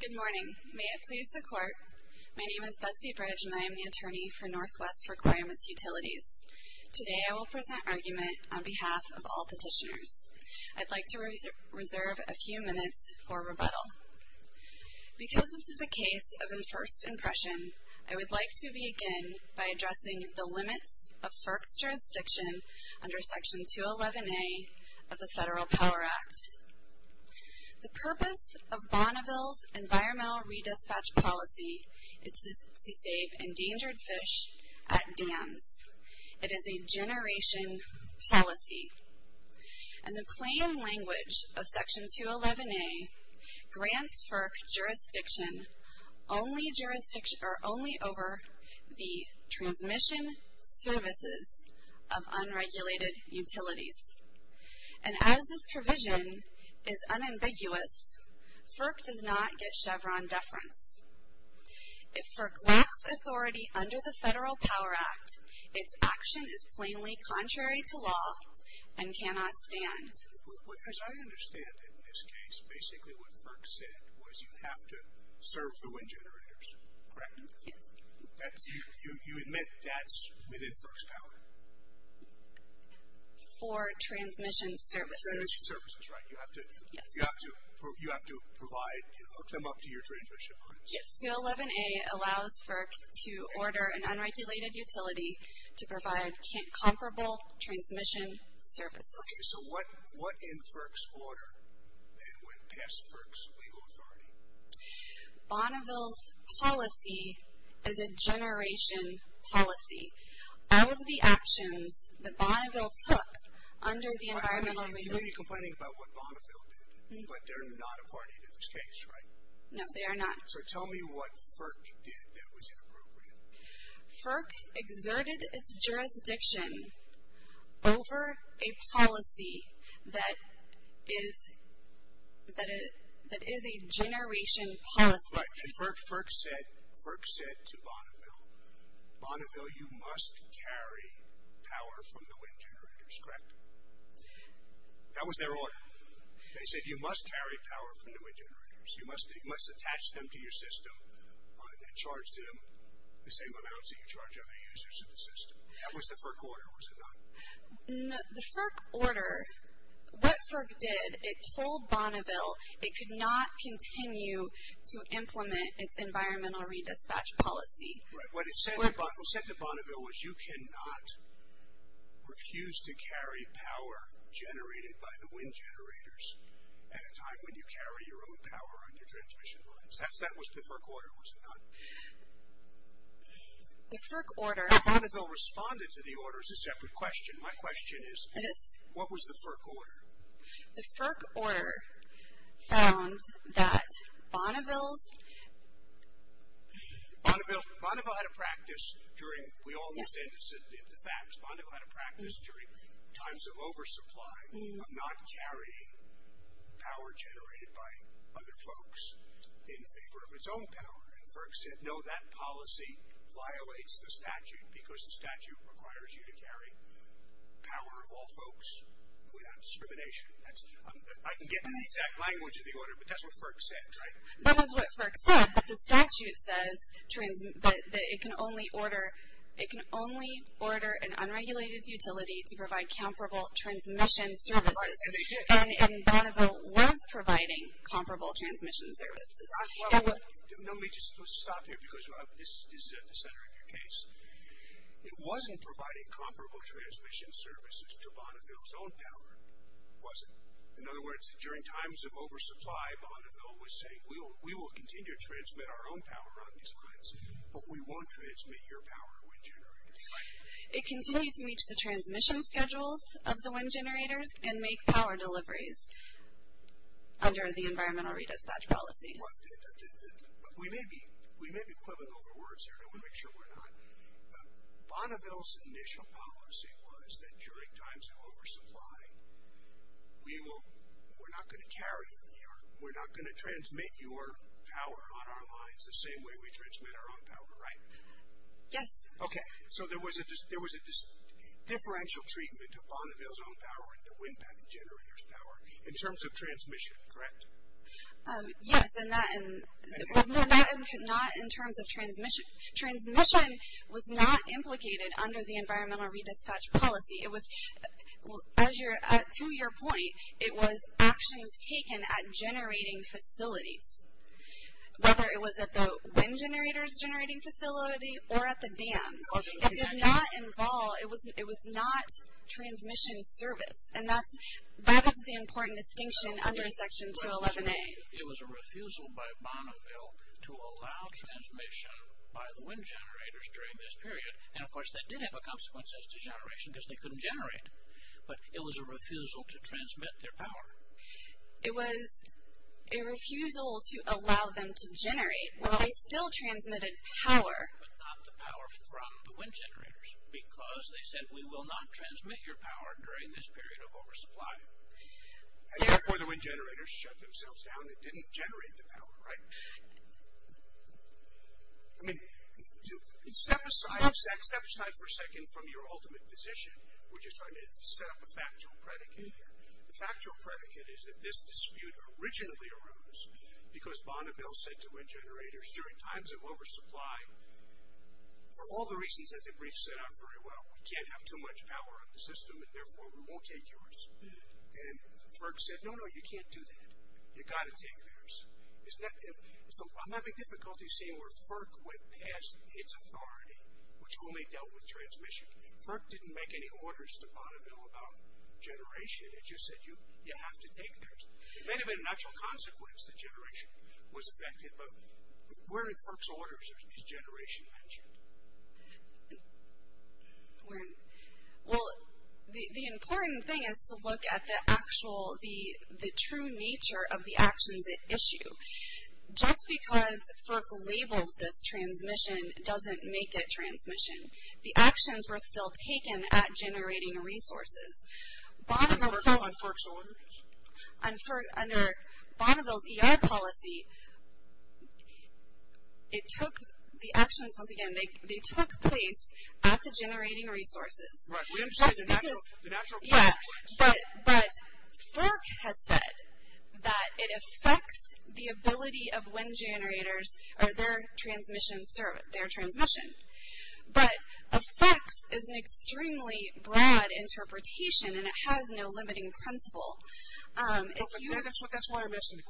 Good morning. May it please the Court, my name is Betsy Bridge and I am the Attorney for Northwest Requirements Utilities. Today I will present argument on behalf of all petitioners. I'd like to reserve a few minutes for rebuttal. Because this is a case of enforced impression, I would like to begin by addressing the limits of FERC's jurisdiction under Section 211A of the Federal Power Act. The purpose of Bonneville's Environmental Redispatch Policy is to save endangered fish at dams. It is a generation policy. And the plain language of Section 211A grants FERC jurisdiction only over the transmission services of unregulated utilities. And as this provision is unambiguous, FERC does not get Chevron deference. If FERC lacks authority under the Federal Power Act, its action is plainly contrary to law and cannot stand. As I understand it in this case, basically what FERC said was you have to serve the wind generators, correct? Yes. You admit that's within FERC's power? For transmission services. Transmission services, right. You have to provide, hook them up to your transmission, correct? Yes, 211A allows FERC to order an unregulated utility to provide comparable transmission services. Okay, so what in FERC's order would pass FERC's legal authority? Bonneville's policy is a generation policy. All of the actions that Bonneville took under the Environmental Redispatch. You may be complaining about what Bonneville did, but they're not a part of this case, right? No, they are not. So tell me what FERC did that was inappropriate. FERC exerted its jurisdiction over a policy that is a generation policy. Right, and FERC said to Bonneville, Bonneville, you must carry power from the wind generators, correct? That was their order. They said you must carry power from the wind generators. You must attach them to your system and charge them the same amounts that you charge other users of the system. That was the FERC order, was it not? The FERC order, what FERC did, it told Bonneville it could not continue to implement its Environmental Redispatch policy. Right, what it said to Bonneville was you cannot refuse to carry power generated by the wind generators at a time when you carry your own power on your transmission lines. That was the FERC order, was it not? The FERC order. Bonneville responded to the order as a separate question. My question is, what was the FERC order? The FERC order found that Bonneville's. Bonneville had a practice during, we all understand the facts. Bonneville had a practice during times of oversupply of not carrying power generated by other folks in favor of its own power, and FERC said no, that policy violates the statute because the statute requires you to carry power of all folks without discrimination. I can get into the exact language of the order, but that's what FERC said, right? That was what FERC said, but the statute says that it can only order, it can only order an unregulated utility to provide comparable transmission services. And Bonneville was providing comparable transmission services. Let me just stop here because this is at the center of your case. It wasn't providing comparable transmission services to Bonneville's own power, was it? In other words, during times of oversupply, Bonneville was saying we will continue to transmit our own power on these lines, but we won't transmit your power, wind generators. It continued to reach the transmission schedules of the wind generators and make power deliveries under the environmental redispatch policy. We may be quibbling over words here, and I want to make sure we're not. Bonneville's initial policy was that during times of oversupply, we're not going to carry, we're not going to transmit your power on our lines the same way we transmit our own power, right? Yes. Okay. So there was a differential treatment to Bonneville's own power and to wind power generators' power in terms of transmission, correct? Yes, and not in terms of transmission. Transmission was not implicated under the environmental redispatch policy. It was, to your point, it was actions taken at generating facilities, whether it was at the wind generators generating facility or at the dams. It did not involve, it was not transmission service, and that is the important distinction under Section 211A. It was a refusal by Bonneville to allow transmission by the wind generators during this period, and of course that did have a consequence as to generation because they couldn't generate, but it was a refusal to transmit their power. It was a refusal to allow them to generate when they still transmitted power. But not the power from the wind generators because they said we will not transmit your power during this period of oversupply. And therefore the wind generators shut themselves down. It didn't generate the power, right? I mean, step aside for a second from your ultimate position, which is trying to set up a factual predicate here. The factual predicate is that this dispute originally arose because Bonneville said to wind generators during times of oversupply, for all the reasons that the brief set out very well, we can't have too much power on the system and therefore we won't take yours. And FERC said, no, no, you can't do that. You've got to take theirs. I'm having difficulty seeing where FERC went past its authority, which only dealt with transmission. FERC didn't make any orders to Bonneville about generation. It just said you have to take theirs. It may have been an actual consequence that generation was affected, but where in FERC's orders is generation mentioned? Well, the important thing is to look at the actual, the true nature of the actions at issue. Just because FERC labels this transmission doesn't make it transmission. The actions were still taken at generating resources. On FERC's order? On FERC, under Bonneville's ER policy, it took, the actions, once again, they took place at the generating resources. Right. We understand the natural consequence. Yeah, but FERC has said that it affects the ability of wind generators or their transmission. But affects is an extremely broad interpretation, and it has no limiting principle. If you ever took that to our mission.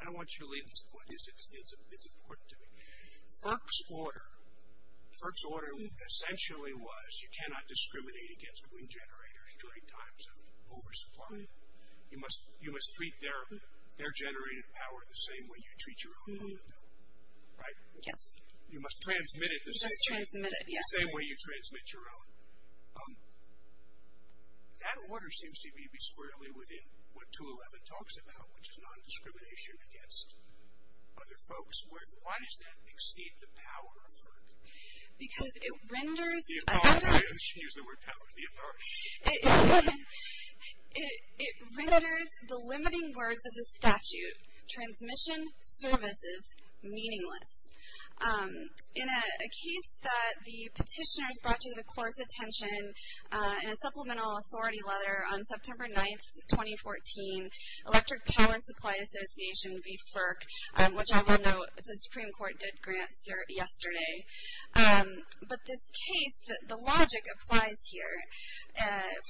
I don't want you to leave this point. It's important to me. FERC's order essentially was you cannot discriminate against wind generators during times of oversupply. You must treat their generated power the same way you treat your own. Right? Yes. You must transmit it the same way you transmit your own. That order seems to me to be squarely within what 211 talks about, which is non-discrimination against other folks. Why does that exceed the power of FERC? Because it renders the limiting words of the statute, transmission services, meaningless. In a case that the petitioners brought to the court's attention in a supplemental authority letter on September 9th, 2014, Electric Power Supply Association v. FERC, which I will note the Supreme Court did grant cert yesterday. But this case, the logic applies here.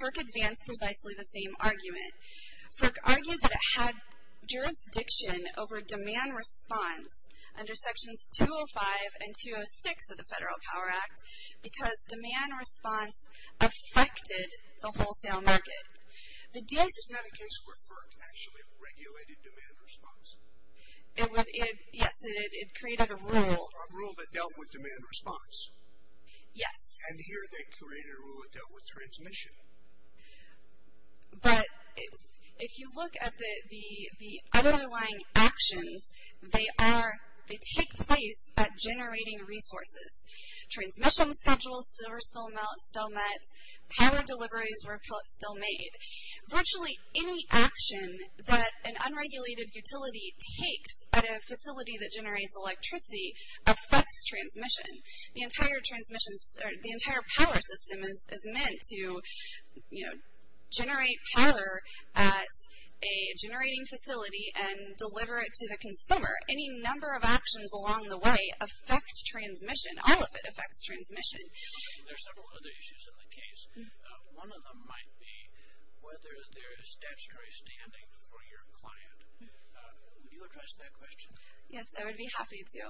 FERC advanced precisely the same argument. FERC argued that it had jurisdiction over demand response under Sections 205 and 206 of the Federal Power Act because demand response affected the wholesale market. This is not a case where FERC actually regulated demand response. Yes, it created a rule. A rule that dealt with demand response. Yes. And here they created a rule that dealt with transmission. But if you look at the underlying actions, they take place at generating resources. Transmission schedules were still met. Power deliveries were still made. Virtually any action that an unregulated utility takes at a facility that generates electricity affects transmission. The entire power system is meant to generate power at a generating facility and deliver it to the consumer. Any number of actions along the way affect transmission. All of it affects transmission. There are several other issues in the case. One of them might be whether there is statutory standing for your client. Would you address that question? Yes, I would be happy to.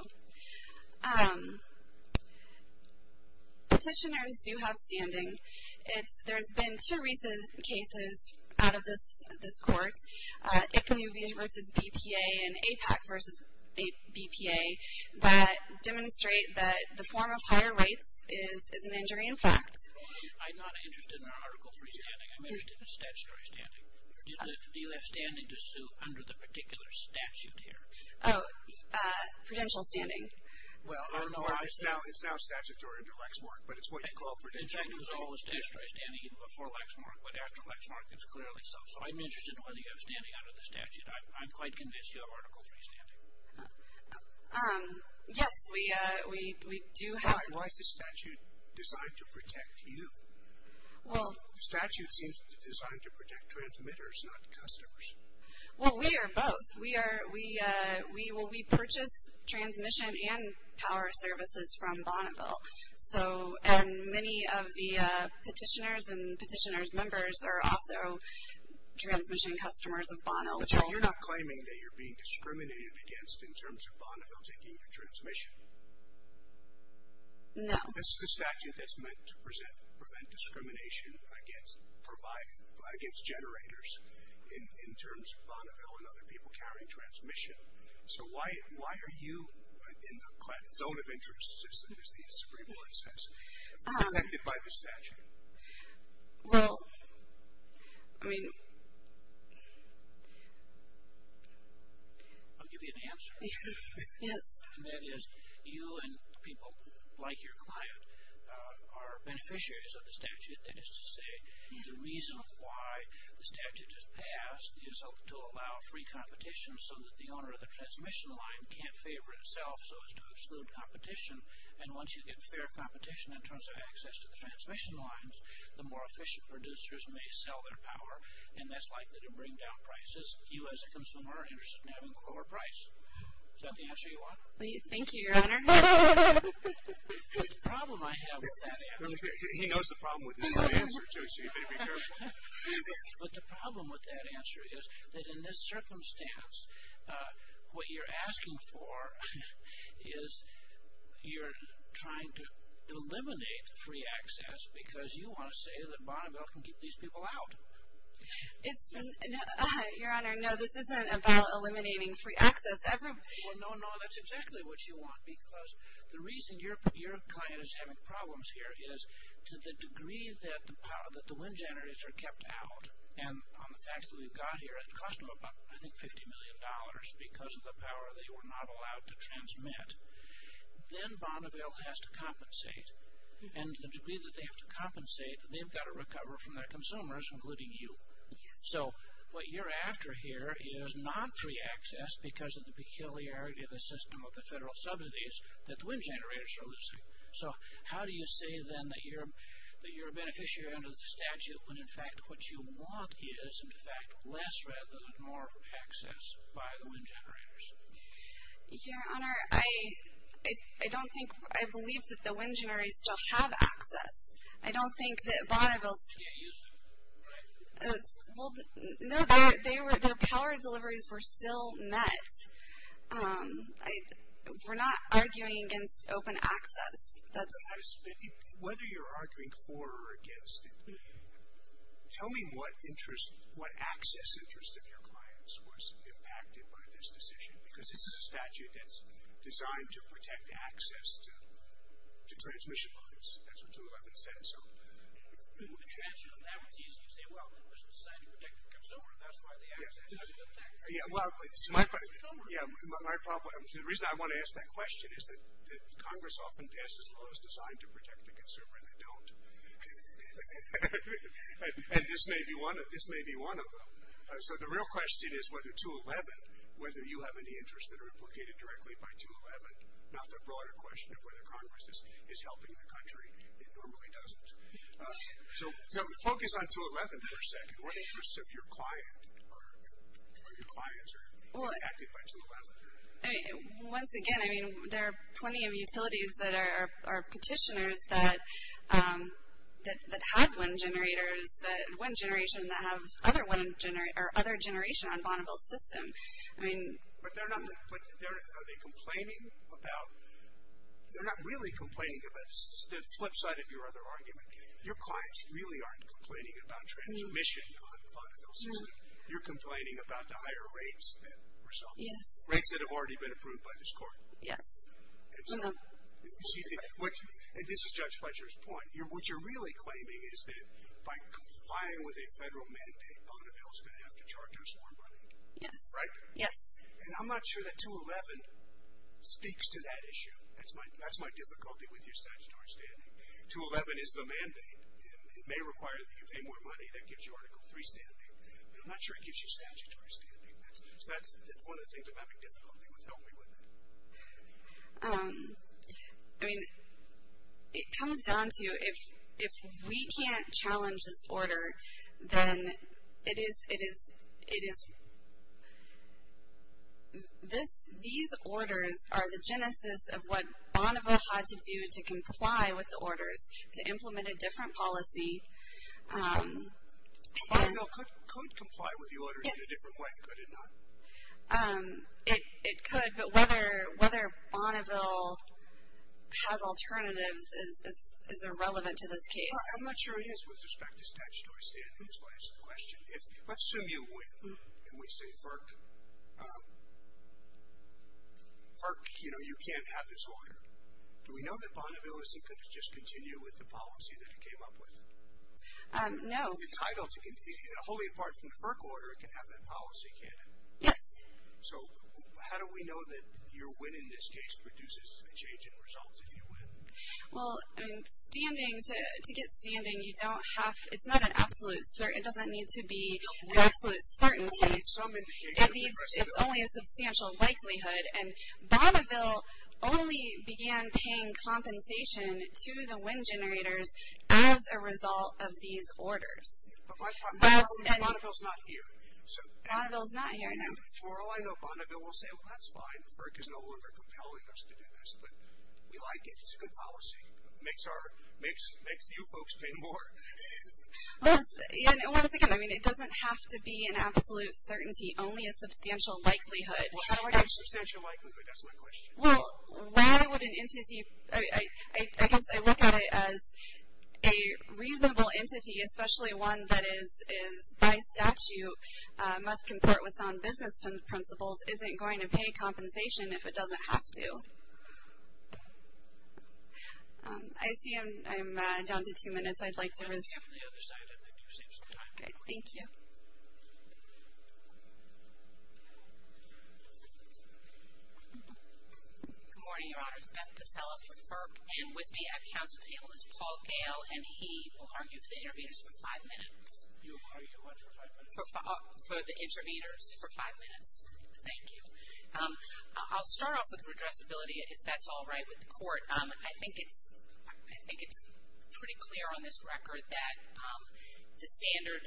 Petitioners do have standing. There's been two recent cases out of this court, ICMU v. BPA and APAC v. BPA, that demonstrate that the form of higher rights is an injury in fact. I'm not interested in Article III standing. I'm interested in statutory standing. Do you have standing to sue under the particular statute here? Oh, prudential standing. Well, I don't know. It's now statutory under Lexmark, but it's what you call prudential. In fact, it was always statutory standing before Lexmark, but after Lexmark it's clearly so. So I'm interested in whether you have standing under the statute. I'm quite convinced you have Article III standing. Yes, we do have. Why is the statute designed to protect you? The statute seems designed to protect transmitters, not customers. Well, we are both. We purchase transmission and power services from Bonneville, and many of the petitioners and petitioners' members are also transmission customers of Bonneville. But you're not claiming that you're being discriminated against in terms of Bonneville taking your transmission? No. This is a statute that's meant to prevent discrimination against generators in terms of Bonneville and other people carrying transmission. So why are you in the zone of interest, as the Supreme Court says, protected by the statute? Well, I mean. I'll give you an answer. Yes. And that is you and people like your client are beneficiaries of the statute. That is to say, the reason why the statute is passed is to allow free competition so that the owner of the transmission line can't favor itself, so as to exclude competition. And once you get fair competition in terms of access to the transmission lines, the more efficient producers may sell their power, and that's likely to bring down prices. You, as a consumer, are interested in having a lower price. Is that the answer you want? Thank you, Your Honor. The problem I have with that answer is that in this circumstance, what you're asking for is you're trying to eliminate free access because you want to say that Bonneville can keep these people out. Your Honor, no, this isn't about eliminating free access. Well, no, no, that's exactly what you want because the reason your client is having problems here is to the degree that the wind generators are kept out, and on the facts that we've got here, it cost them about, I think, $50 million because of the power they were not allowed to transmit. Then Bonneville has to compensate. And the degree that they have to compensate, they've got to recover from their consumers, including you. So what you're after here is not free access because of the peculiarity of the system of the federal subsidies that the wind generators are losing. So how do you say, then, that you're a beneficiary under the statute when, in fact, what you want is, in fact, less rather than more access by the wind generators? Your Honor, I don't think, I believe that the wind generators still have access. I don't think that Bonneville's. No, their power deliveries were still met. We're not arguing against open access. Whether you're arguing for or against it, tell me what access interest of your clients was impacted by this decision because this is a statute that's designed to protect access to transmission lines. That's what 2.11 says. So. The answer to that is you say, well, it was designed to protect the consumer. That's why they access. That's a good fact. Yeah, well, it's my problem. Yeah, my problem. The reason I want to ask that question is that Congress often passes laws designed to protect the consumer and they don't. And this may be one of them. So the real question is whether 2.11, whether you have any interests that are implicated directly by 2.11, not the broader question of whether Congress is helping the country. It normally doesn't. So focus on 2.11 for a second. What interests of your client or your clients are impacted by 2.11? Once again, I mean, there are plenty of utilities that are petitioners that have wind generators, one generation that have other generation on Bonneville's system. But they're not, are they complaining about, they're not really complaining about, the flip side of your other argument. Your clients really aren't complaining about transmission on Bonneville's system. You're complaining about the higher rates that result. Yes. Rates that have already been approved by this court. Yes. And so, you see, and this is Judge Fletcher's point. What you're really claiming is that by complying with a federal mandate, Bonneville's going to have to charge us more money. Yes. Right? Yes. And I'm not sure that 2.11 speaks to that issue. That's my difficulty with your statutory standing. 2.11 is the mandate. It may require that you pay more money. That gives you Article III standing. But I'm not sure it gives you statutory standing. So that's one of the things about the difficulty with helping with it. I mean, it comes down to, if we can't challenge this order, then it is, it is, it is, this, these orders are the genesis of what Bonneville had to do to comply with the orders, to implement a different policy. Bonneville could comply with the orders in a different way, could it not? It could, but whether Bonneville has alternatives is irrelevant to this case. I'm not sure it is with respect to statutory standing, is my question. Let's assume you win, and we say FERC, FERC, you know, you can't have this order. Do we know that Bonneville isn't going to just continue with the policy that it came up with? No. Well, the title, wholly apart from the FERC order, it can have that policy, can't it? Yes. So how do we know that your win in this case produces a change in results if you win? Well, I mean, standing, to get standing, you don't have, it's not an absolute, it doesn't need to be an absolute certainty. It's only a substantial likelihood. And Bonneville only began paying compensation to the win generators as a result of these orders. But my problem is Bonneville's not here. Bonneville's not here. And for all I know, Bonneville will say, well, that's fine. FERC is no longer compelling us to do this, but we like it. It's a good policy. It makes you folks pay more. Once again, I mean, it doesn't have to be an absolute certainty, only a substantial likelihood. A substantial likelihood, that's my question. Well, why would an entity, I guess I look at it as a reasonable entity, especially one that is by statute must comport with sound business principles, isn't going to pay compensation if it doesn't have to. I see I'm down to two minutes. I'd like to resume. Okay. Thank you. Good morning, Your Honors. Beth Bissella for FERC. And with me at council table is Paul Gale, and he will argue for the interveners for five minutes. You'll argue what for five minutes? For the interveners for five minutes. Thank you. I'll start off with redressability, if that's all right with the court. I think it's pretty clear on this record that the standard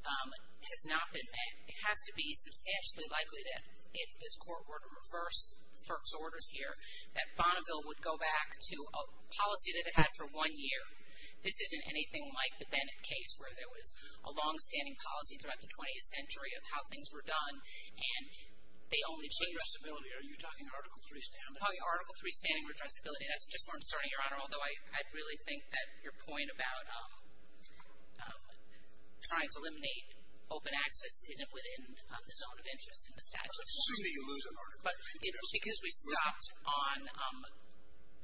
has not been met. It has to be substantially likely that if this court were to reverse FERC's orders here, that Bonneville would go back to a policy that it had for one year. This isn't anything like the Bennett case, where there was a longstanding policy throughout the 20th century of how things were done, and they only changed. Redressability, are you talking Article III standing? I'm talking Article III standing redressability. That's just where I'm starting, Your Honor, although I really think that your point about trying to eliminate open access isn't within the zone of interest in the statute. I don't see that you're losing Article III.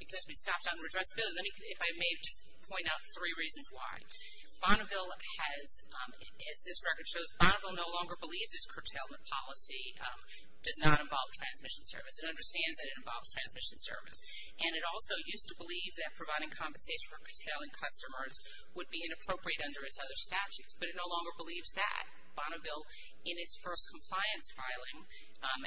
Because we stopped on redressability. Let me, if I may, just point out three reasons why. Bonneville has, as this record shows, Bonneville no longer believes its curtailment policy does not involve transmission service. It understands that it involves transmission service. And it also used to believe that providing compensation for curtailing customers would be inappropriate under its other statutes. But it no longer believes that. Bonneville, in its first compliance filing at,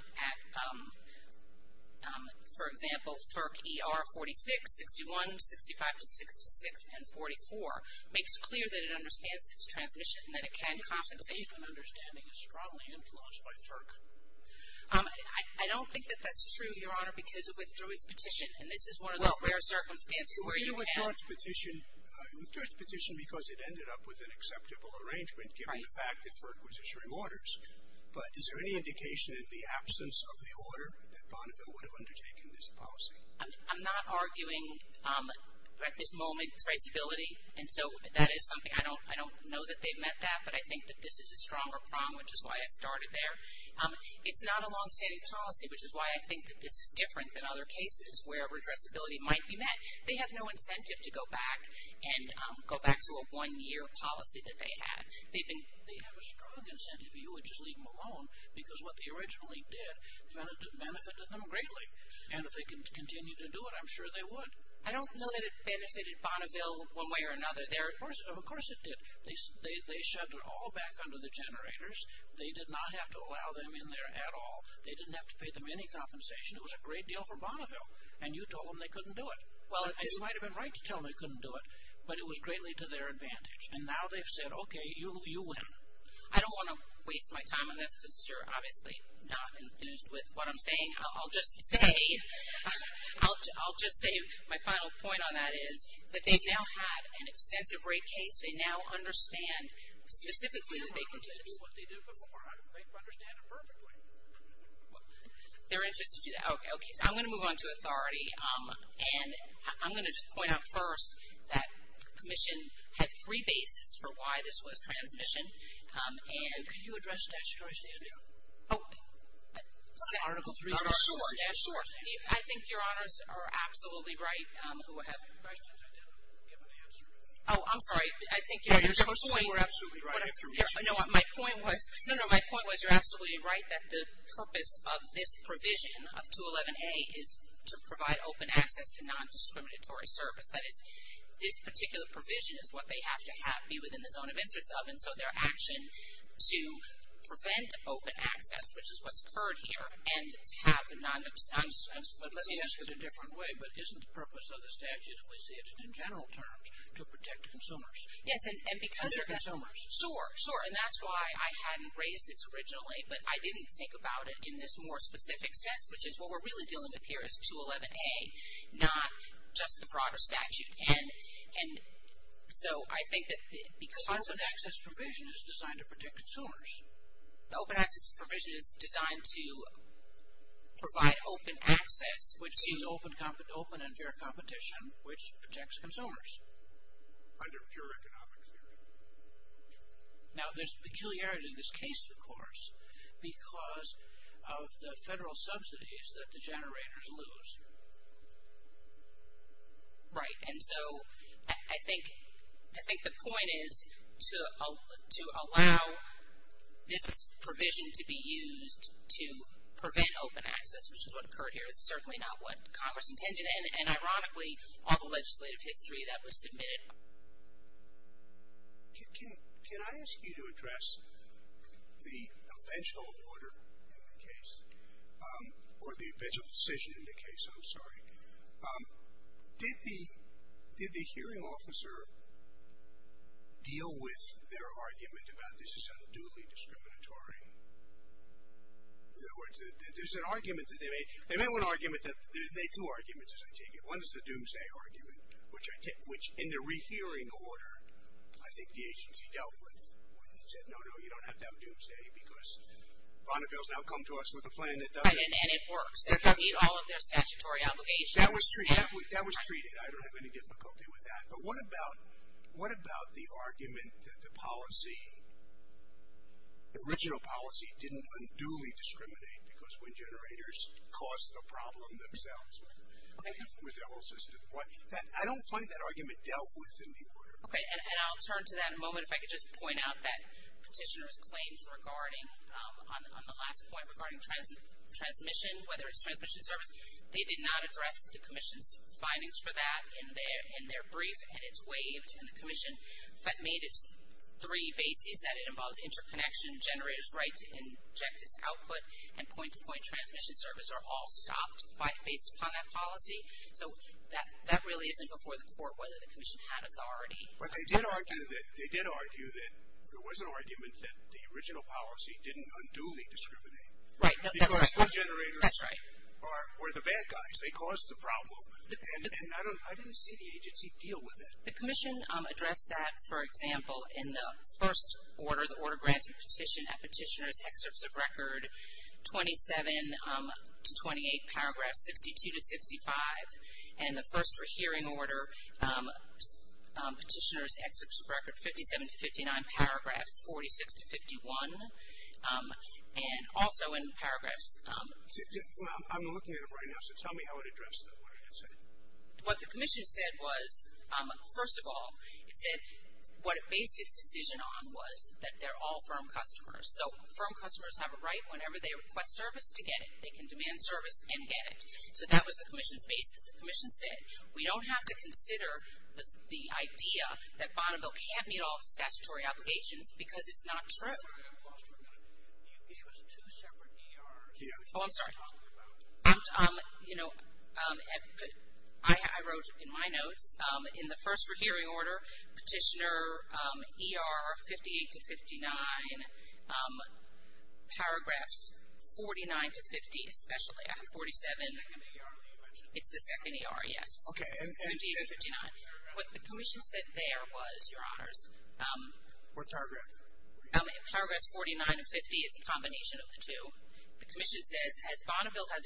for example, FERC ER 46, 61, 65 to 66, and 44, makes clear that it understands its transmission and that it can compensate. I believe an understanding is strongly influenced by FERC. I don't think that that's true, Your Honor, because it withdrew its petition. And this is one of those rare circumstances where you can't Well, it withdrew its petition because it ended up with an acceptable arrangement, given the fact that FERC was issuing orders. But is there any indication in the absence of the order that Bonneville would have undertaken this policy? I'm not arguing at this moment traceability. And so that is something. I don't know that they've met that. But I think that this is a stronger problem, which is why I started there. It's not a longstanding policy, which is why I think that this is different than other cases where redressability might be met. They have no incentive to go back and go back to a one-year policy that they had. They have a strong incentive. You would just leave them alone because what they originally did benefited them greatly. And if they can continue to do it, I'm sure they would. I don't know that it benefited Bonneville one way or another. Of course it did. They shut it all back under the generators. They did not have to allow them in there at all. They didn't have to pay them any compensation. It was a great deal for Bonneville. And you told them they couldn't do it. And you might have been right to tell them they couldn't do it. But it was greatly to their advantage. And now they've said, okay, you win. I don't want to waste my time on this because you're obviously not enthused with what I'm saying. I'll just say my final point on that is that they've now had an extensive rate case. They now understand specifically that they can do this. They're interested to do that. Okay. So I'm going to move on to authority. And I'm going to just point out first that commission had three bases for why this was transmission. And. Can you address statutory standard? Oh. Article three. Sure. I think your honors are absolutely right. Who have questions, I didn't give an answer. Oh, I'm sorry. I think your point. You're supposed to say we're absolutely right. No, my point was you're absolutely right that the purpose of this provision of 211A is to provide open access to nondiscriminatory service. That is, this particular provision is what they have to be within the zone of interest of. And so their action to prevent open access, which is what's occurred here, and to have a nondiscriminatory service. But let me ask it a different way. But isn't the purpose of the statute, if we see it in general terms, to protect consumers? Yes. And because. Other consumers. Sure. Sure. And that's why I hadn't raised this originally. But I didn't think about it in this more specific sense. Which is what we're really dealing with here is 211A, not just the broader statute. And so I think that because. The open access provision is designed to protect consumers. The open access provision is designed to provide open access. Which means open and fair competition, which protects consumers. Under pure economic theory. Now, there's peculiarity in this case, of course, because of the federal subsidies that the generators lose. Right. And so I think the point is to allow this provision to be used to prevent open access, which is what occurred here. It's certainly not what Congress intended. And ironically, all the legislative history that was submitted. Can I ask you to address the eventual order in the case? Or the eventual decision in the case, I'm sorry. Did the hearing officer deal with their argument about this is unduly discriminatory? In other words, there's an argument that they made. They made two arguments, as I take it. One is the doomsday argument. Which in the rehearing order, I think the agency dealt with. When they said, no, no, you don't have to have a doomsday. Because Bonneville's now come to us with a plan that doesn't. And it works. They complete all of their statutory obligations. That was treated. I don't have any difficulty with that. But what about the argument that the policy, the original policy didn't unduly discriminate. Because when generators caused the problem themselves with the whole system. I don't find that argument dealt with in the order. Okay. And I'll turn to that in a moment. If I could just point out that petitioner's claims regarding, on the last point, regarding transmission, whether it's transmission service, they did not address the commission's findings for that in their brief. And it's waived. And the commission made its three bases that it involves interconnection, generators' right to inject its output, and point-to-point transmission service are all stopped based upon that policy. So that really isn't before the court, whether the commission had authority. But they did argue that there was an argument that the original policy didn't unduly discriminate. Right. That's right. Or the bad guys. They caused the problem. And I didn't see the agency deal with it. The commission addressed that, for example, in the first order, the order granted petition at petitioner's excerpts of record 27 to 28, paragraph 62 to 65. And the first for hearing order, petitioner's excerpts of record 57 to 59, paragraphs 46 to 51. And also in paragraphs. I'm looking at it right now. So tell me how it addressed that. What the commission said was, first of all, it said what it based its decision on was that they're all firm customers. So firm customers have a right, whenever they request service, to get it. They can demand service and get it. So that was the commission's basis. The commission said, we don't have to consider the idea that Bonneville can't meet all statutory obligations because it's not true. You gave us two separate ERs. Oh, I'm sorry. You know, I wrote in my notes, in the first for hearing order, petitioner ER 58 to 59, paragraphs 49 to 50, especially at 47. It's the second ER that you mentioned. It's the second ER, yes. Okay. What the commission said there was, Your Honors. What paragraph? Paragraphs 49 and 50, it's a combination of the two. The commission said, as Bonneville has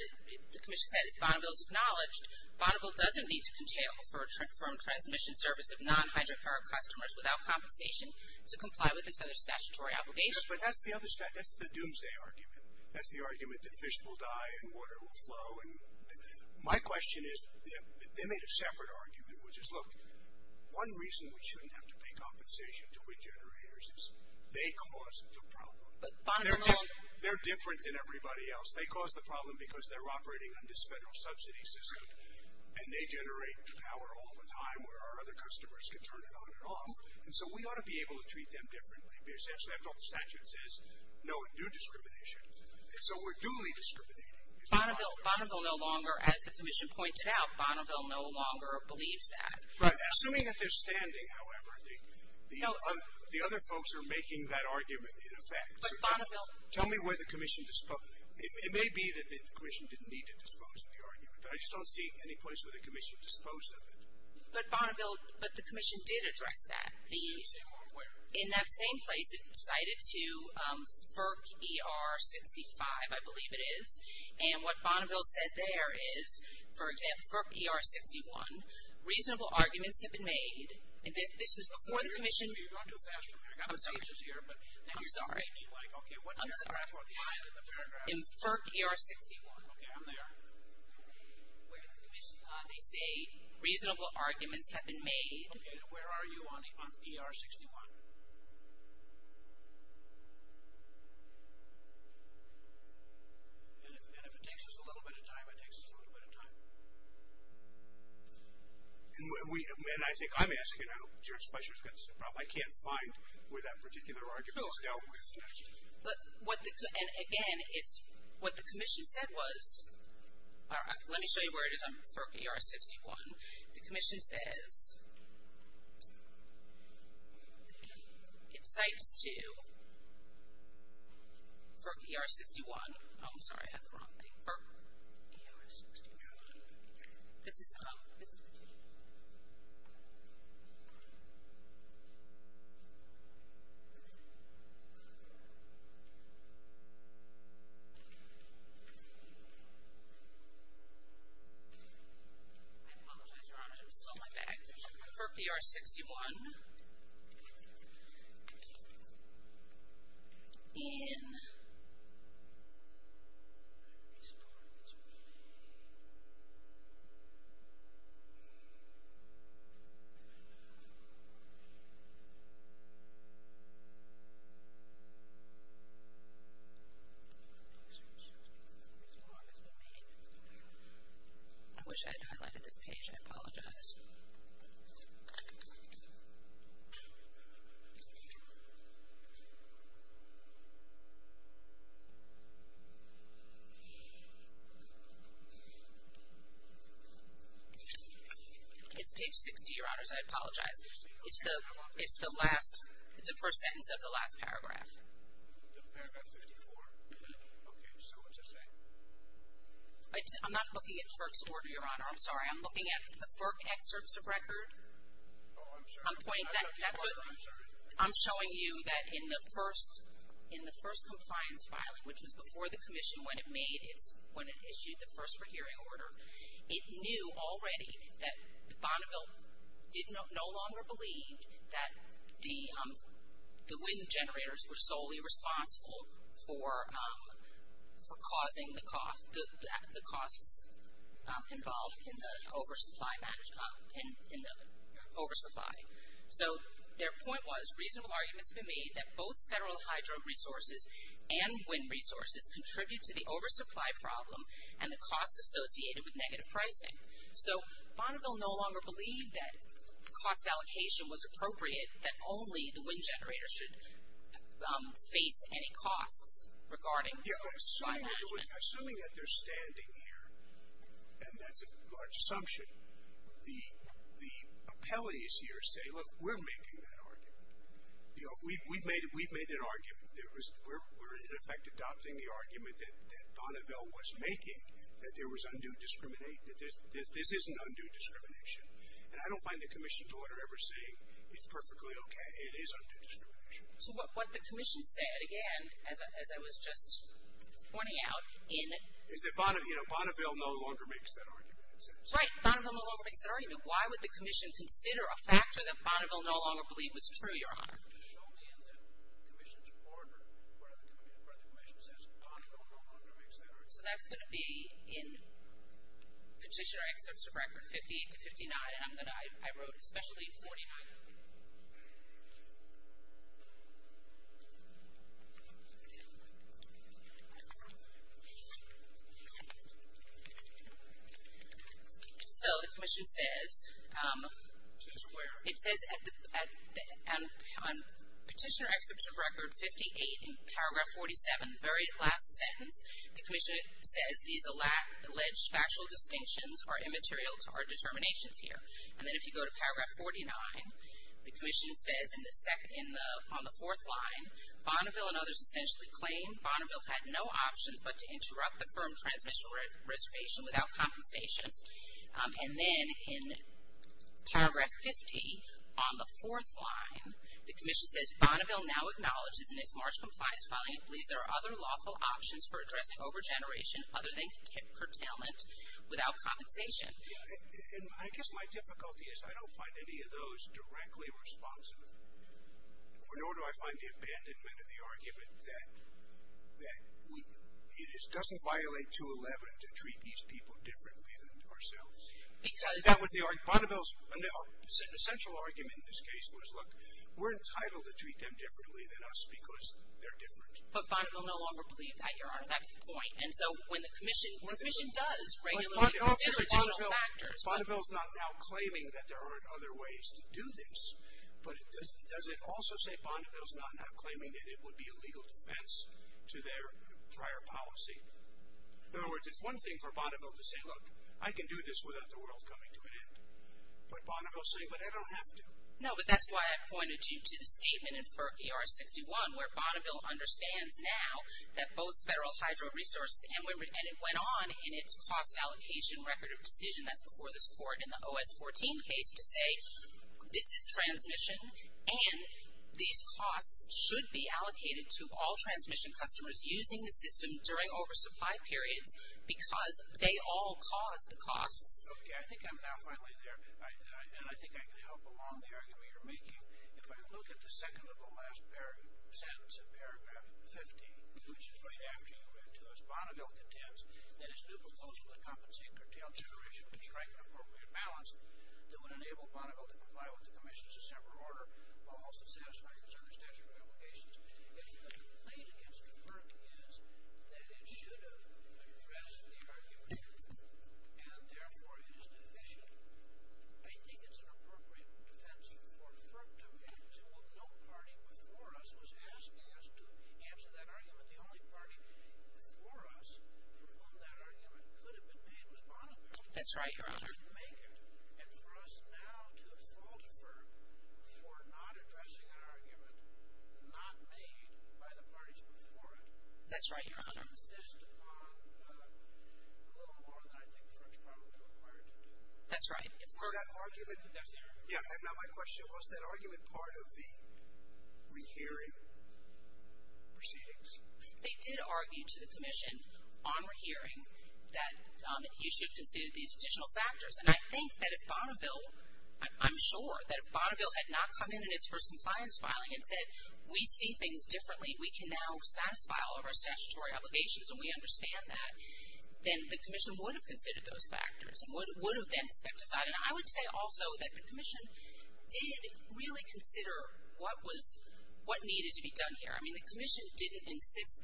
acknowledged, Bonneville doesn't need to contain a firm transmission service of non-hydrocarb customers without compensation to comply with its other statutory obligations. But that's the other statute. That's the doomsday argument. That's the argument that fish will die and water will flow. My question is, they made a separate argument, which is, look, one reason we shouldn't have to pay compensation to wind generators is they cause the problem. They're different than everybody else. They cause the problem because they're operating on this federal subsidy system, and they generate power all the time where our other customers can turn it on and off. And so, we ought to be able to treat them differently. After all, the statute says no new discrimination. And so, we're duly discriminating. Bonneville no longer, as the commission pointed out, Bonneville no longer believes that. Right. Assuming that they're standing, however, the other folks are making that argument in effect. Tell me where the commission disposed of it. It may be that the commission didn't need to dispose of the argument. I just don't see any place where the commission disposed of it. But Bonneville, but the commission did address that. In that same place, it cited to FERC ER 65, I believe it is. And what Bonneville said there is, for example, FERC ER 61, reasonable arguments have been made. This was before the commission. I'm sorry. I'm sorry. I'm sorry. In FERC ER 61. Okay, I'm there. Where the commission, they say reasonable arguments have been made. Okay. And where are you on ER 61? And if it takes us a little bit of time, it takes us a little bit of time. And I think I'm asking how George Fletcher gets involved. I can't find where that particular argument is dealt with. And, again, what the commission said was, let me show you where it is on FERC ER 61. The commission says it cites to FERC ER 61. Oh, I'm sorry. I have the wrong thing. FERC ER 61. This is the commission. I apologize, Your Honor. I'm still on my back. FERC ER 61. In. I wish I had highlighted this page. I apologize. It's page 60, Your Honors. I apologize. It's the last, the first sentence of the last paragraph. Paragraph 54. Okay. So what's it say? I'm not looking at FERC's order, Your Honor. I'm sorry. I'm looking at the FERC excerpts of record. Oh, I'm sorry. I'm showing you that in the first compliance filing, which was before the commission when it issued the first pre-hearing order, it knew already that Bonneville no longer believed that the wind generators were solely responsible for causing the costs involved in the oversupply. So their point was reasonable arguments have been made that both federal hydro resources and wind resources contribute to the oversupply problem and the costs associated with negative pricing. So Bonneville no longer believed that the cost allocation was appropriate, that only the wind generators should face any costs regarding oversupply management. Assuming that they're standing here and that's a large amount of money. So I don't find the commission's order ever saying that I don't find the commission's order ever saying that there's undue discrimination. So what the commission said, again, as I was just pointing out in. Is that Bonneville no longer makes that argument. Right. Bonneville no longer makes that argument. Why would the commission consider a factor that Bonneville no longer believe was true, Your Honor? So that's going to be in petitioner excerpts of record 58 to 59. And I'm going to, I wrote especially 49. Okay. So the commission says. It says. Petitioner excerpts of record 58 in paragraph 47, the very last sentence. The commission says these alleged factual distinctions are immaterial to our determinations here. And then if you go to paragraph 49, the commission says in the second, in the, on the fourth line, Bonneville and others essentially claim Bonneville had no options, but to interrupt the firm transmission reservation without compensation. And then in paragraph 50 on the fourth line, the commission says Bonneville now acknowledges in its March compliance filing, it believes there are other lawful options for addressing over generation other than curtailment without compensation. And I guess my difficulty is I don't find any of those directly responsive or nor do I find the abandonment of the argument that, that we, it is doesn't violate two 11 to treat these people differently than ourselves. That was the, the central argument in this case was look, we're entitled to treat them differently than us because they're different. No longer believe that you're on. That's the point. And so when the commission, the commission does regularly considers additional factors. Bonneville is not now claiming that there aren't other ways to do this, but does it also say Bonneville is not now claiming that it would be a legal defense to their prior policy? In other words, it's one thing for Bonneville to say, look, I can do this without the world coming to an end. But Bonneville saying, but I don't have to. No, but that's why I pointed you to the statement in FERC ER 61, where Bonneville understands now that both federal hydro resources and it went on in its cost allocation record of decision. That's before this court in the OS 14 case to say, this is transmission. And these costs should be allocated to all transmission customers using the system during oversupply periods, because they all cause the costs. Okay. I think I'm now finally there. And I think I can help along the argument you're making. If I look at the second to the last sentence of paragraph 50, which is right after you read to us, Bonneville contends that his new proposal to compensate curtailed generation and strike an appropriate balance that would enable Bonneville to comply with the commission's December order, while also satisfying his other statutory obligations. And the complaint against FERC is that it should have addressed the argument. And therefore it is deficient. I think it's an appropriate defense for FERC to make. Well, no party before us was asking us to answer that argument. The only party for us for whom that argument could have been made was Bonneville. That's right, Your Honor. And for us now to fault FERC for not addressing an argument not made by the parties before it. That's right, Your Honor. This is a little more than I think FERC is probably required to do. That's right. Was that argument part of the rehearing proceedings? They did argue to the commission on rehearing that you should consider these additional factors. And I think that if Bonneville, I'm sure, that if Bonneville had not come in in its first compliance filing and said, we see things differently, we can now satisfy all of our statutory obligations and we understand that, then the commission would have considered those factors and would have then stepped aside. And I would say also that the commission did really consider what was, what needed to be done here. I mean the commission didn't insist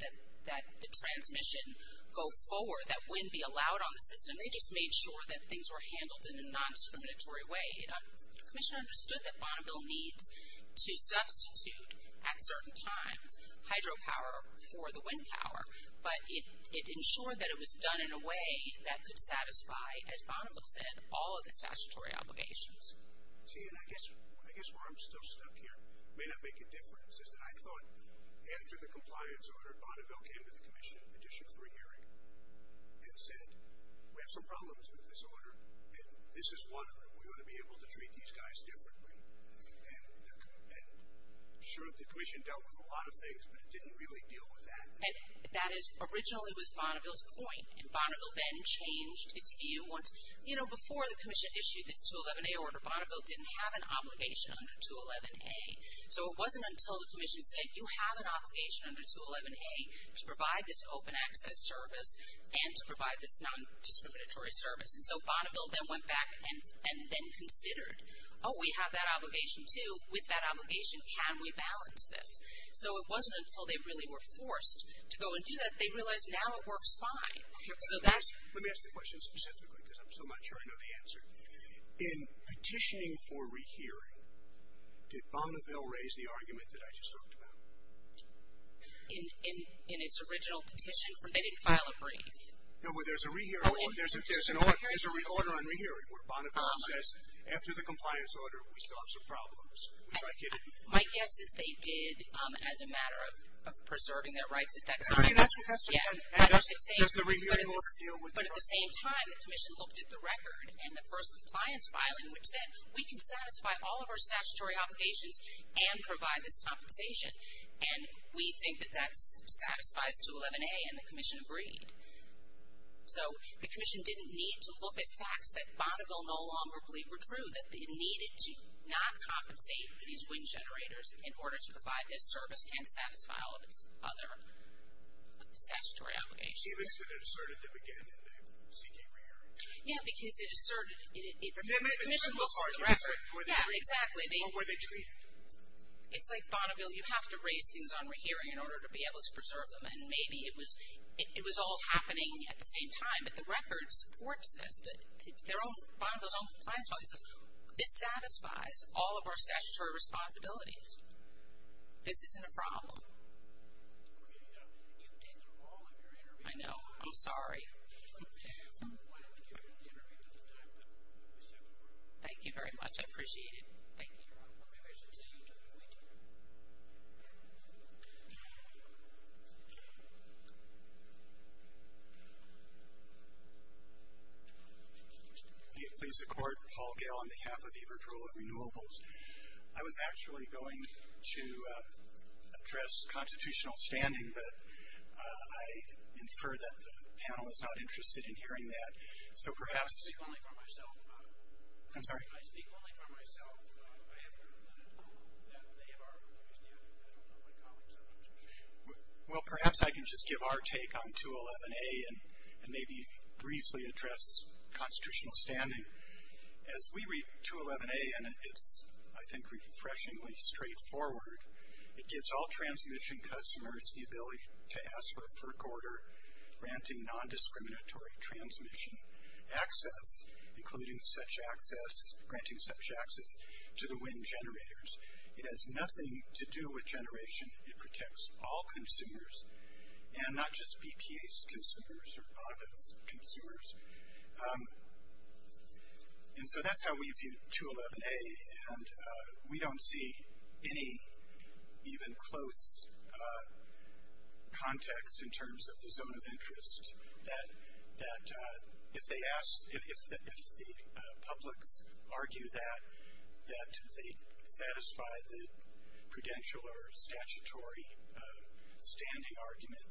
that the transmission go forward, that wind be allowed on the system. They just made sure that things were handled in a non-discriminatory way. The commission understood that Bonneville needs to substitute at certain times hydropower for the wind power. But it ensured that it was done in a way that could satisfy, as Bonneville said, all of the statutory obligations. See, and I guess where I'm still stuck here may not make a difference, is that I thought after the compliance order, Bonneville came to the commission in addition for a hearing and said, we have some problems with this order and this is one of them. We want to be able to treat these guys differently. And sure, the commission dealt with a lot of things, but it didn't really deal with that. And that is originally was Bonneville's point. And Bonneville then changed its view once, you know, before the commission issued this 211A order, Bonneville didn't have an obligation under 211A. So it wasn't until the commission said, you have an obligation under 211A to provide this open access service and to provide this non-discriminatory service. And so Bonneville then went back and then considered, oh, we have that obligation too. With that obligation, can we balance this? So it wasn't until they really were forced to go and do that, they realized now it works fine. So that's. Let me ask the question specifically, because I'm still not sure I know the answer. In petitioning for rehearing, did Bonneville raise the argument that I just talked about? In its original petition, they didn't file a brief. No, well, there's a order on rehearing where Bonneville says, after the compliance order, we still have some problems. My guess is they did as a matter of preserving their rights at that time. But at the same time, the commission looked at the record and the first compliance filing, which said we can satisfy all of our statutory obligations and provide this compensation. And we think that that satisfies 211A, and the commission agreed. So the commission didn't need to look at facts that Bonneville no longer believed were true, that it needed to not compensate these wind generators in order to provide this service and satisfy all of its other statutory obligations. Even if it asserted to begin seeking rehearing? Yeah, because it asserted. The commission looked at the record. Yeah, exactly. Or were they treated? It's like Bonneville, you have to raise things on rehearing in order to be able to preserve them, and maybe it was all happening at the same time. But the record supports this. It's Bonneville's own compliance policy. This satisfies all of our statutory responsibilities. This isn't a problem. I know, I'm sorry. Thank you very much, I appreciate it. Thank you. Maybe I should say you took the mic. Please accord Paul Gale on behalf of Everett Rural Renewables. I was actually going to address constitutional standing, but I infer that the panel is not interested in hearing that. So perhaps... I speak only for myself. I'm sorry? I speak only for myself. I have heard that at home that they are interested. I don't know what comments I want to make. Well, perhaps I can just give our take on 211A and maybe briefly address constitutional standing. As we read 211A, and it's, I think, refreshingly straightforward, it gives all transmission customers the ability to ask for a FERC order granting nondiscriminatory transmission access, including such access, granting such access to the wind generators. It has nothing to do with generation. It protects all consumers and not just BPA's consumers or AVA's consumers. And so that's how we view 211A, and we don't see any even close context in terms of the zone of interest that if the publics argue that they satisfy the prudential or statutory standing argument,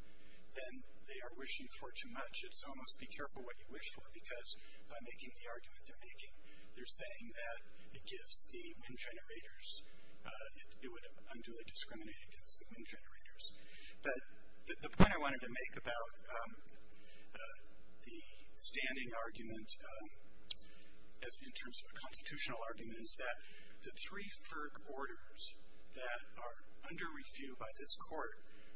then they are wishing for too much. It's almost be careful what you wish for, because by making the argument they're making, they're saying that it gives the wind generators, it would unduly discriminate against the wind generators. But the point I wanted to make about the standing argument in terms of a constitutional argument is that the three FERC orders that are under review by this court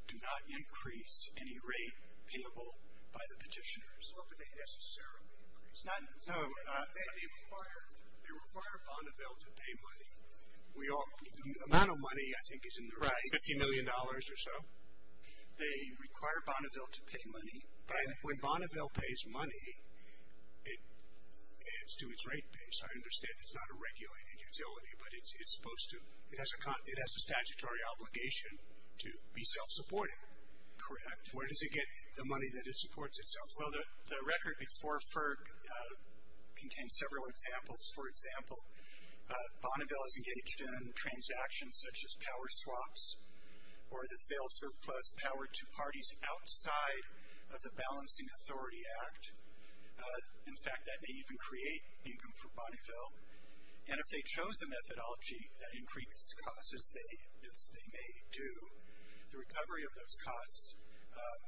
do not increase any rate payable by the petitioners. Or do they necessarily increase? No. They require Bonneville to pay money. The amount of money, I think, is in the right. $50 million or so. They require Bonneville to pay money. But when Bonneville pays money, it's to its rate base. I understand it's not a regulated utility, but it's supposed to. It has a statutory obligation to be self-supporting. Correct. Where does it get the money that it supports itself? Well, the record before FERC contains several examples. For example, Bonneville is engaged in transactions such as power swaps or the sale of surplus power to parties outside of the Balancing Authority Act. In fact, that may even create income for Bonneville. And if they chose a methodology that increased costs, as they may do, the recovery of those costs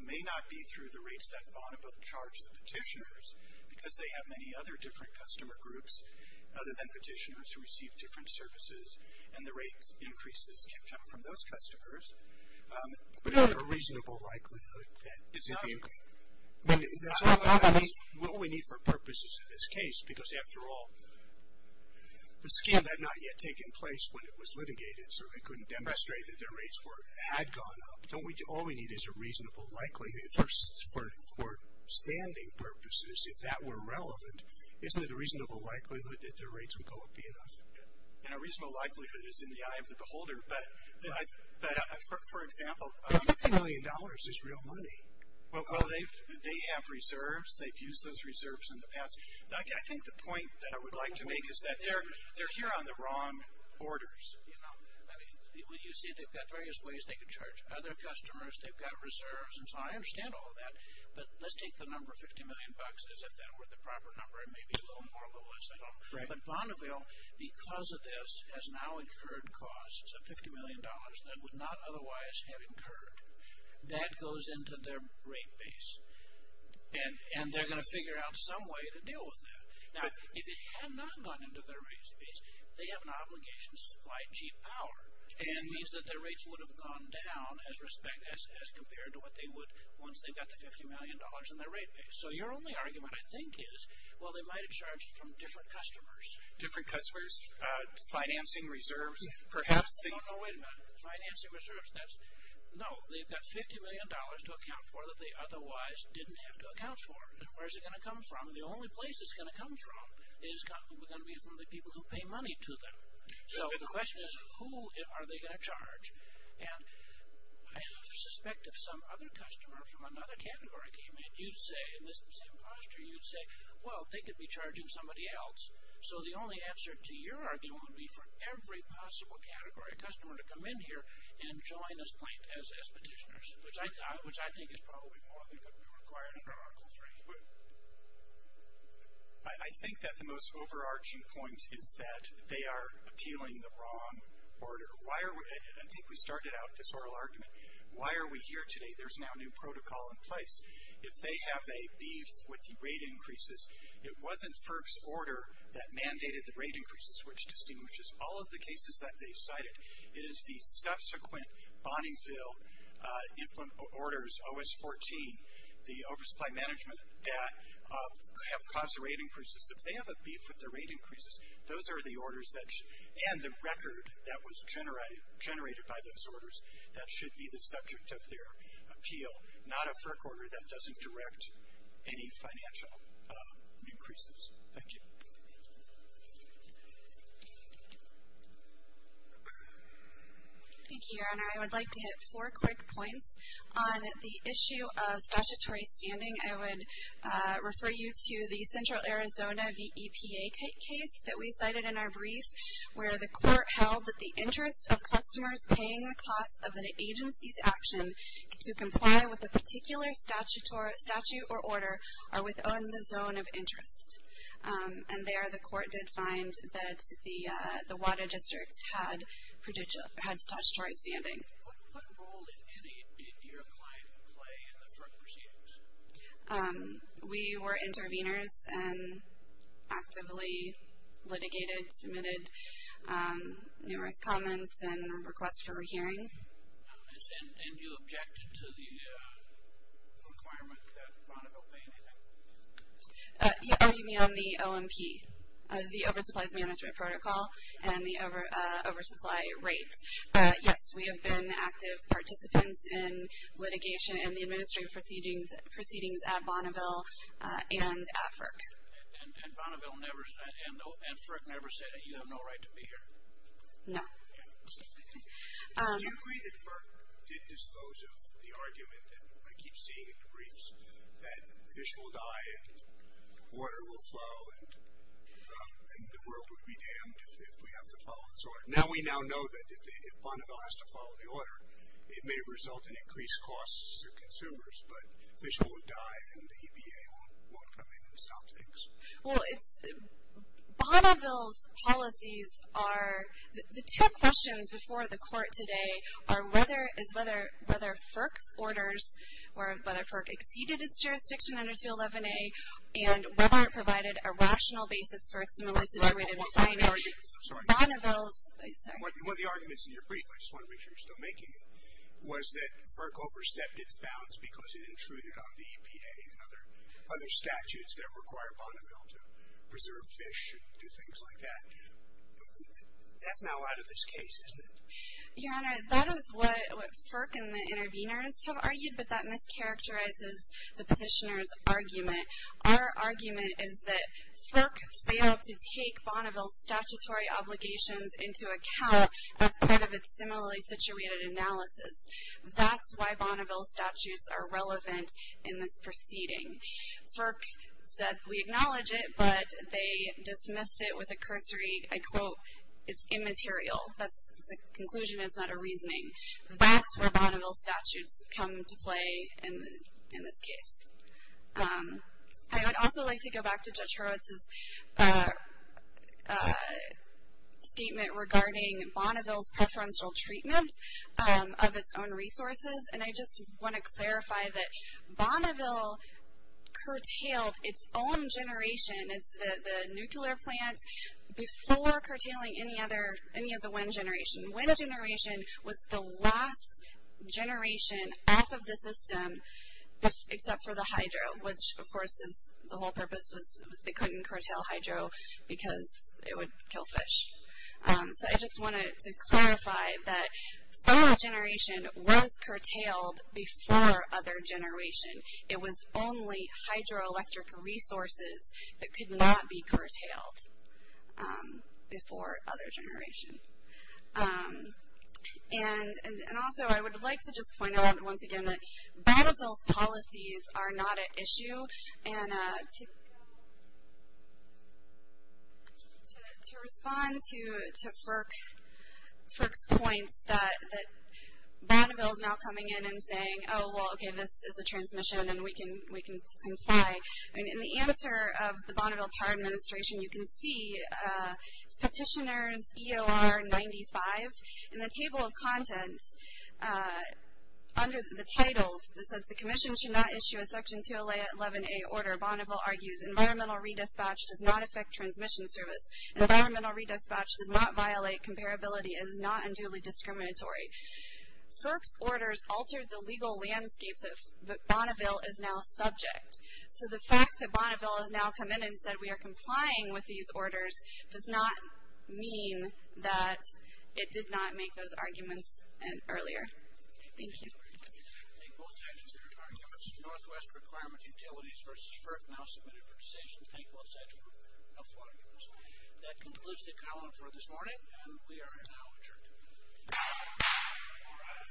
may not be through the rates that Bonneville charged the petitioners because they have many other different customer groups other than petitioners who receive different services, and the rates increases can come from those customers. But is there a reasonable likelihood that it's not true? I mean, that's all we need for purposes of this case because, after all, the scheme had not yet taken place when it was litigated, so they couldn't demonstrate that their rates had gone up. All we need is a reasonable likelihood for standing purposes. If that were relevant, isn't it a reasonable likelihood that their rates would go up enough? And a reasonable likelihood is in the eye of the beholder, but, for example, $50 million is real money. Well, they have reserves. They've used those reserves in the past. I think the point that I would like to make is that they're here on the wrong orders. You see, they've got various ways they can charge other customers. They've got reserves, and so I understand all of that, but let's take the number of $50 million as if that were the proper number. It may be a little more or a little less. But Bonneville, because of this, has now incurred costs of $50 million that would not otherwise have incurred. That goes into their rate base, and they're going to figure out some way to deal with that. Now, if it had not gone into their rate base, they have an obligation to supply cheap power, which means that their rates would have gone down as compared to what they would once they got the $50 million in their rate base. So your only argument, I think, is, well, they might have charged from different customers. Different customers? Financing, reserves, perhaps? No, no, wait a minute. Financing, reserves, that's... No, they've got $50 million to account for that they otherwise didn't have to account for. Where's it going to come from? The only place it's going to come from is going to be from the people who pay money to them. So the question is, who are they going to charge? And I suspect if some other customer from another category came in, you'd say, in this same posture, you'd say, well, they could be charging somebody else. So the only answer to your argument would be for every possible category customer to come in here and join this plant as expetitioners, which I think is probably more than could be required under Article III. I think that the most overarching point is that they are appealing the wrong order. I think we started out this oral argument. Why are we here today? There's now a new protocol in place. If they have a beef with the rate increases, it wasn't FERC's order that mandated the rate increases, which distinguishes all of the cases that they cited. It is the subsequent Bonningville implement orders, OS-14, the oversupply management, that have caused the rate increases. If they have a beef with the rate increases, those are the orders that should... generated by those orders, that should be the subject of their appeal, not a FERC order that doesn't direct any financial increases. Thank you. Thank you, Your Honor. I would like to hit four quick points. On the issue of statutory standing, I would refer you to the Central Arizona VEPA case that we cited in our brief, where the court held that the interest of customers paying the cost of an agency's action to comply with a particular statute or order are within the zone of interest. And there the court did find that the water districts had statutory standing. What role did your client play in the FERC proceedings? We were interveners and actively litigated, submitted numerous comments and requests for a hearing. And you objected to the requirement that Bonneville pay anything? You mean on the OMP, the Oversupplies Management Protocol, and the oversupply rate. Yes, we have been active participants in litigation and the administrative proceedings at Bonneville and at FERC. And Bonneville never, and FERC never said that you have no right to be here? No. Do you agree that FERC did dispose of the argument that I keep seeing in the briefs, that fish will die and water will flow and the world would be damned if we have to follow this order? Now we now know that if Bonneville has to follow the order, it may result in increased costs to consumers, but fish won't die and the EPA won't come in and stop things. Well, Bonneville's policies are, the two questions before the court today are whether FERC's orders, whether FERC exceeded its jurisdiction under 211A, and whether it provided a rational basis for its similarly situated findings. I'm sorry. Bonneville's, sorry. One of the arguments in your brief, I just want to make sure you're still making it, was that FERC overstepped its bounds because it intruded on the EPA and other statutes that require Bonneville to preserve fish and do things like that. That's not a lot of this case, isn't it? Your Honor, that is what FERC and the intervene artists have argued, but that mischaracterizes the petitioner's argument. Our argument is that FERC failed to take Bonneville's statutory obligations into account as part of its similarly situated analysis. That's why Bonneville's statutes are relevant in this proceeding. FERC said, we acknowledge it, but they dismissed it with a cursory, I quote, it's immaterial. That's a conclusion, it's not a reasoning. That's where Bonneville's statutes come to play in this case. I would also like to go back to Judge Hurwitz's statement regarding Bonneville's preferential treatment of its own resources, and I just want to clarify that Bonneville curtailed its own generation, it's the nuclear plant, before curtailing any of the wind generation. Wind generation was the last generation off of the system, except for the hydro, which, of course, the whole purpose was they couldn't curtail hydro because it would kill fish. So I just wanted to clarify that thermal generation was curtailed before other generation. It was only hydroelectric resources that could not be curtailed before other generation. And also, I would like to just point out once again that Bonneville's policies are not at issue, and to respond to FERC's points that Bonneville's now coming in and saying, oh, well, okay, this is a transmission and we can comply. In the answer of the Bonneville Power Administration, you can see it's Petitioner's EOR 95. In the table of contents, under the titles, it says the commission should not issue a Section 211A order. Bonneville argues environmental re-dispatch does not affect transmission service. Environmental re-dispatch does not violate comparability and is not unduly discriminatory. FERC's orders altered the legal landscape that Bonneville is now subject. So the fact that Bonneville has now come in and said we are complying with these orders does not mean that it did not make those arguments earlier. Thank you. Thank you, Senator. Thank you. Thank both Sessions for your arguments. Northwest Requirements Utilities v. FERC now submitted for decision. Thank both Sessions for all your arguments. That concludes the calendar for this morning, and we are now adjourned. All rise. This morning's session is adjourned.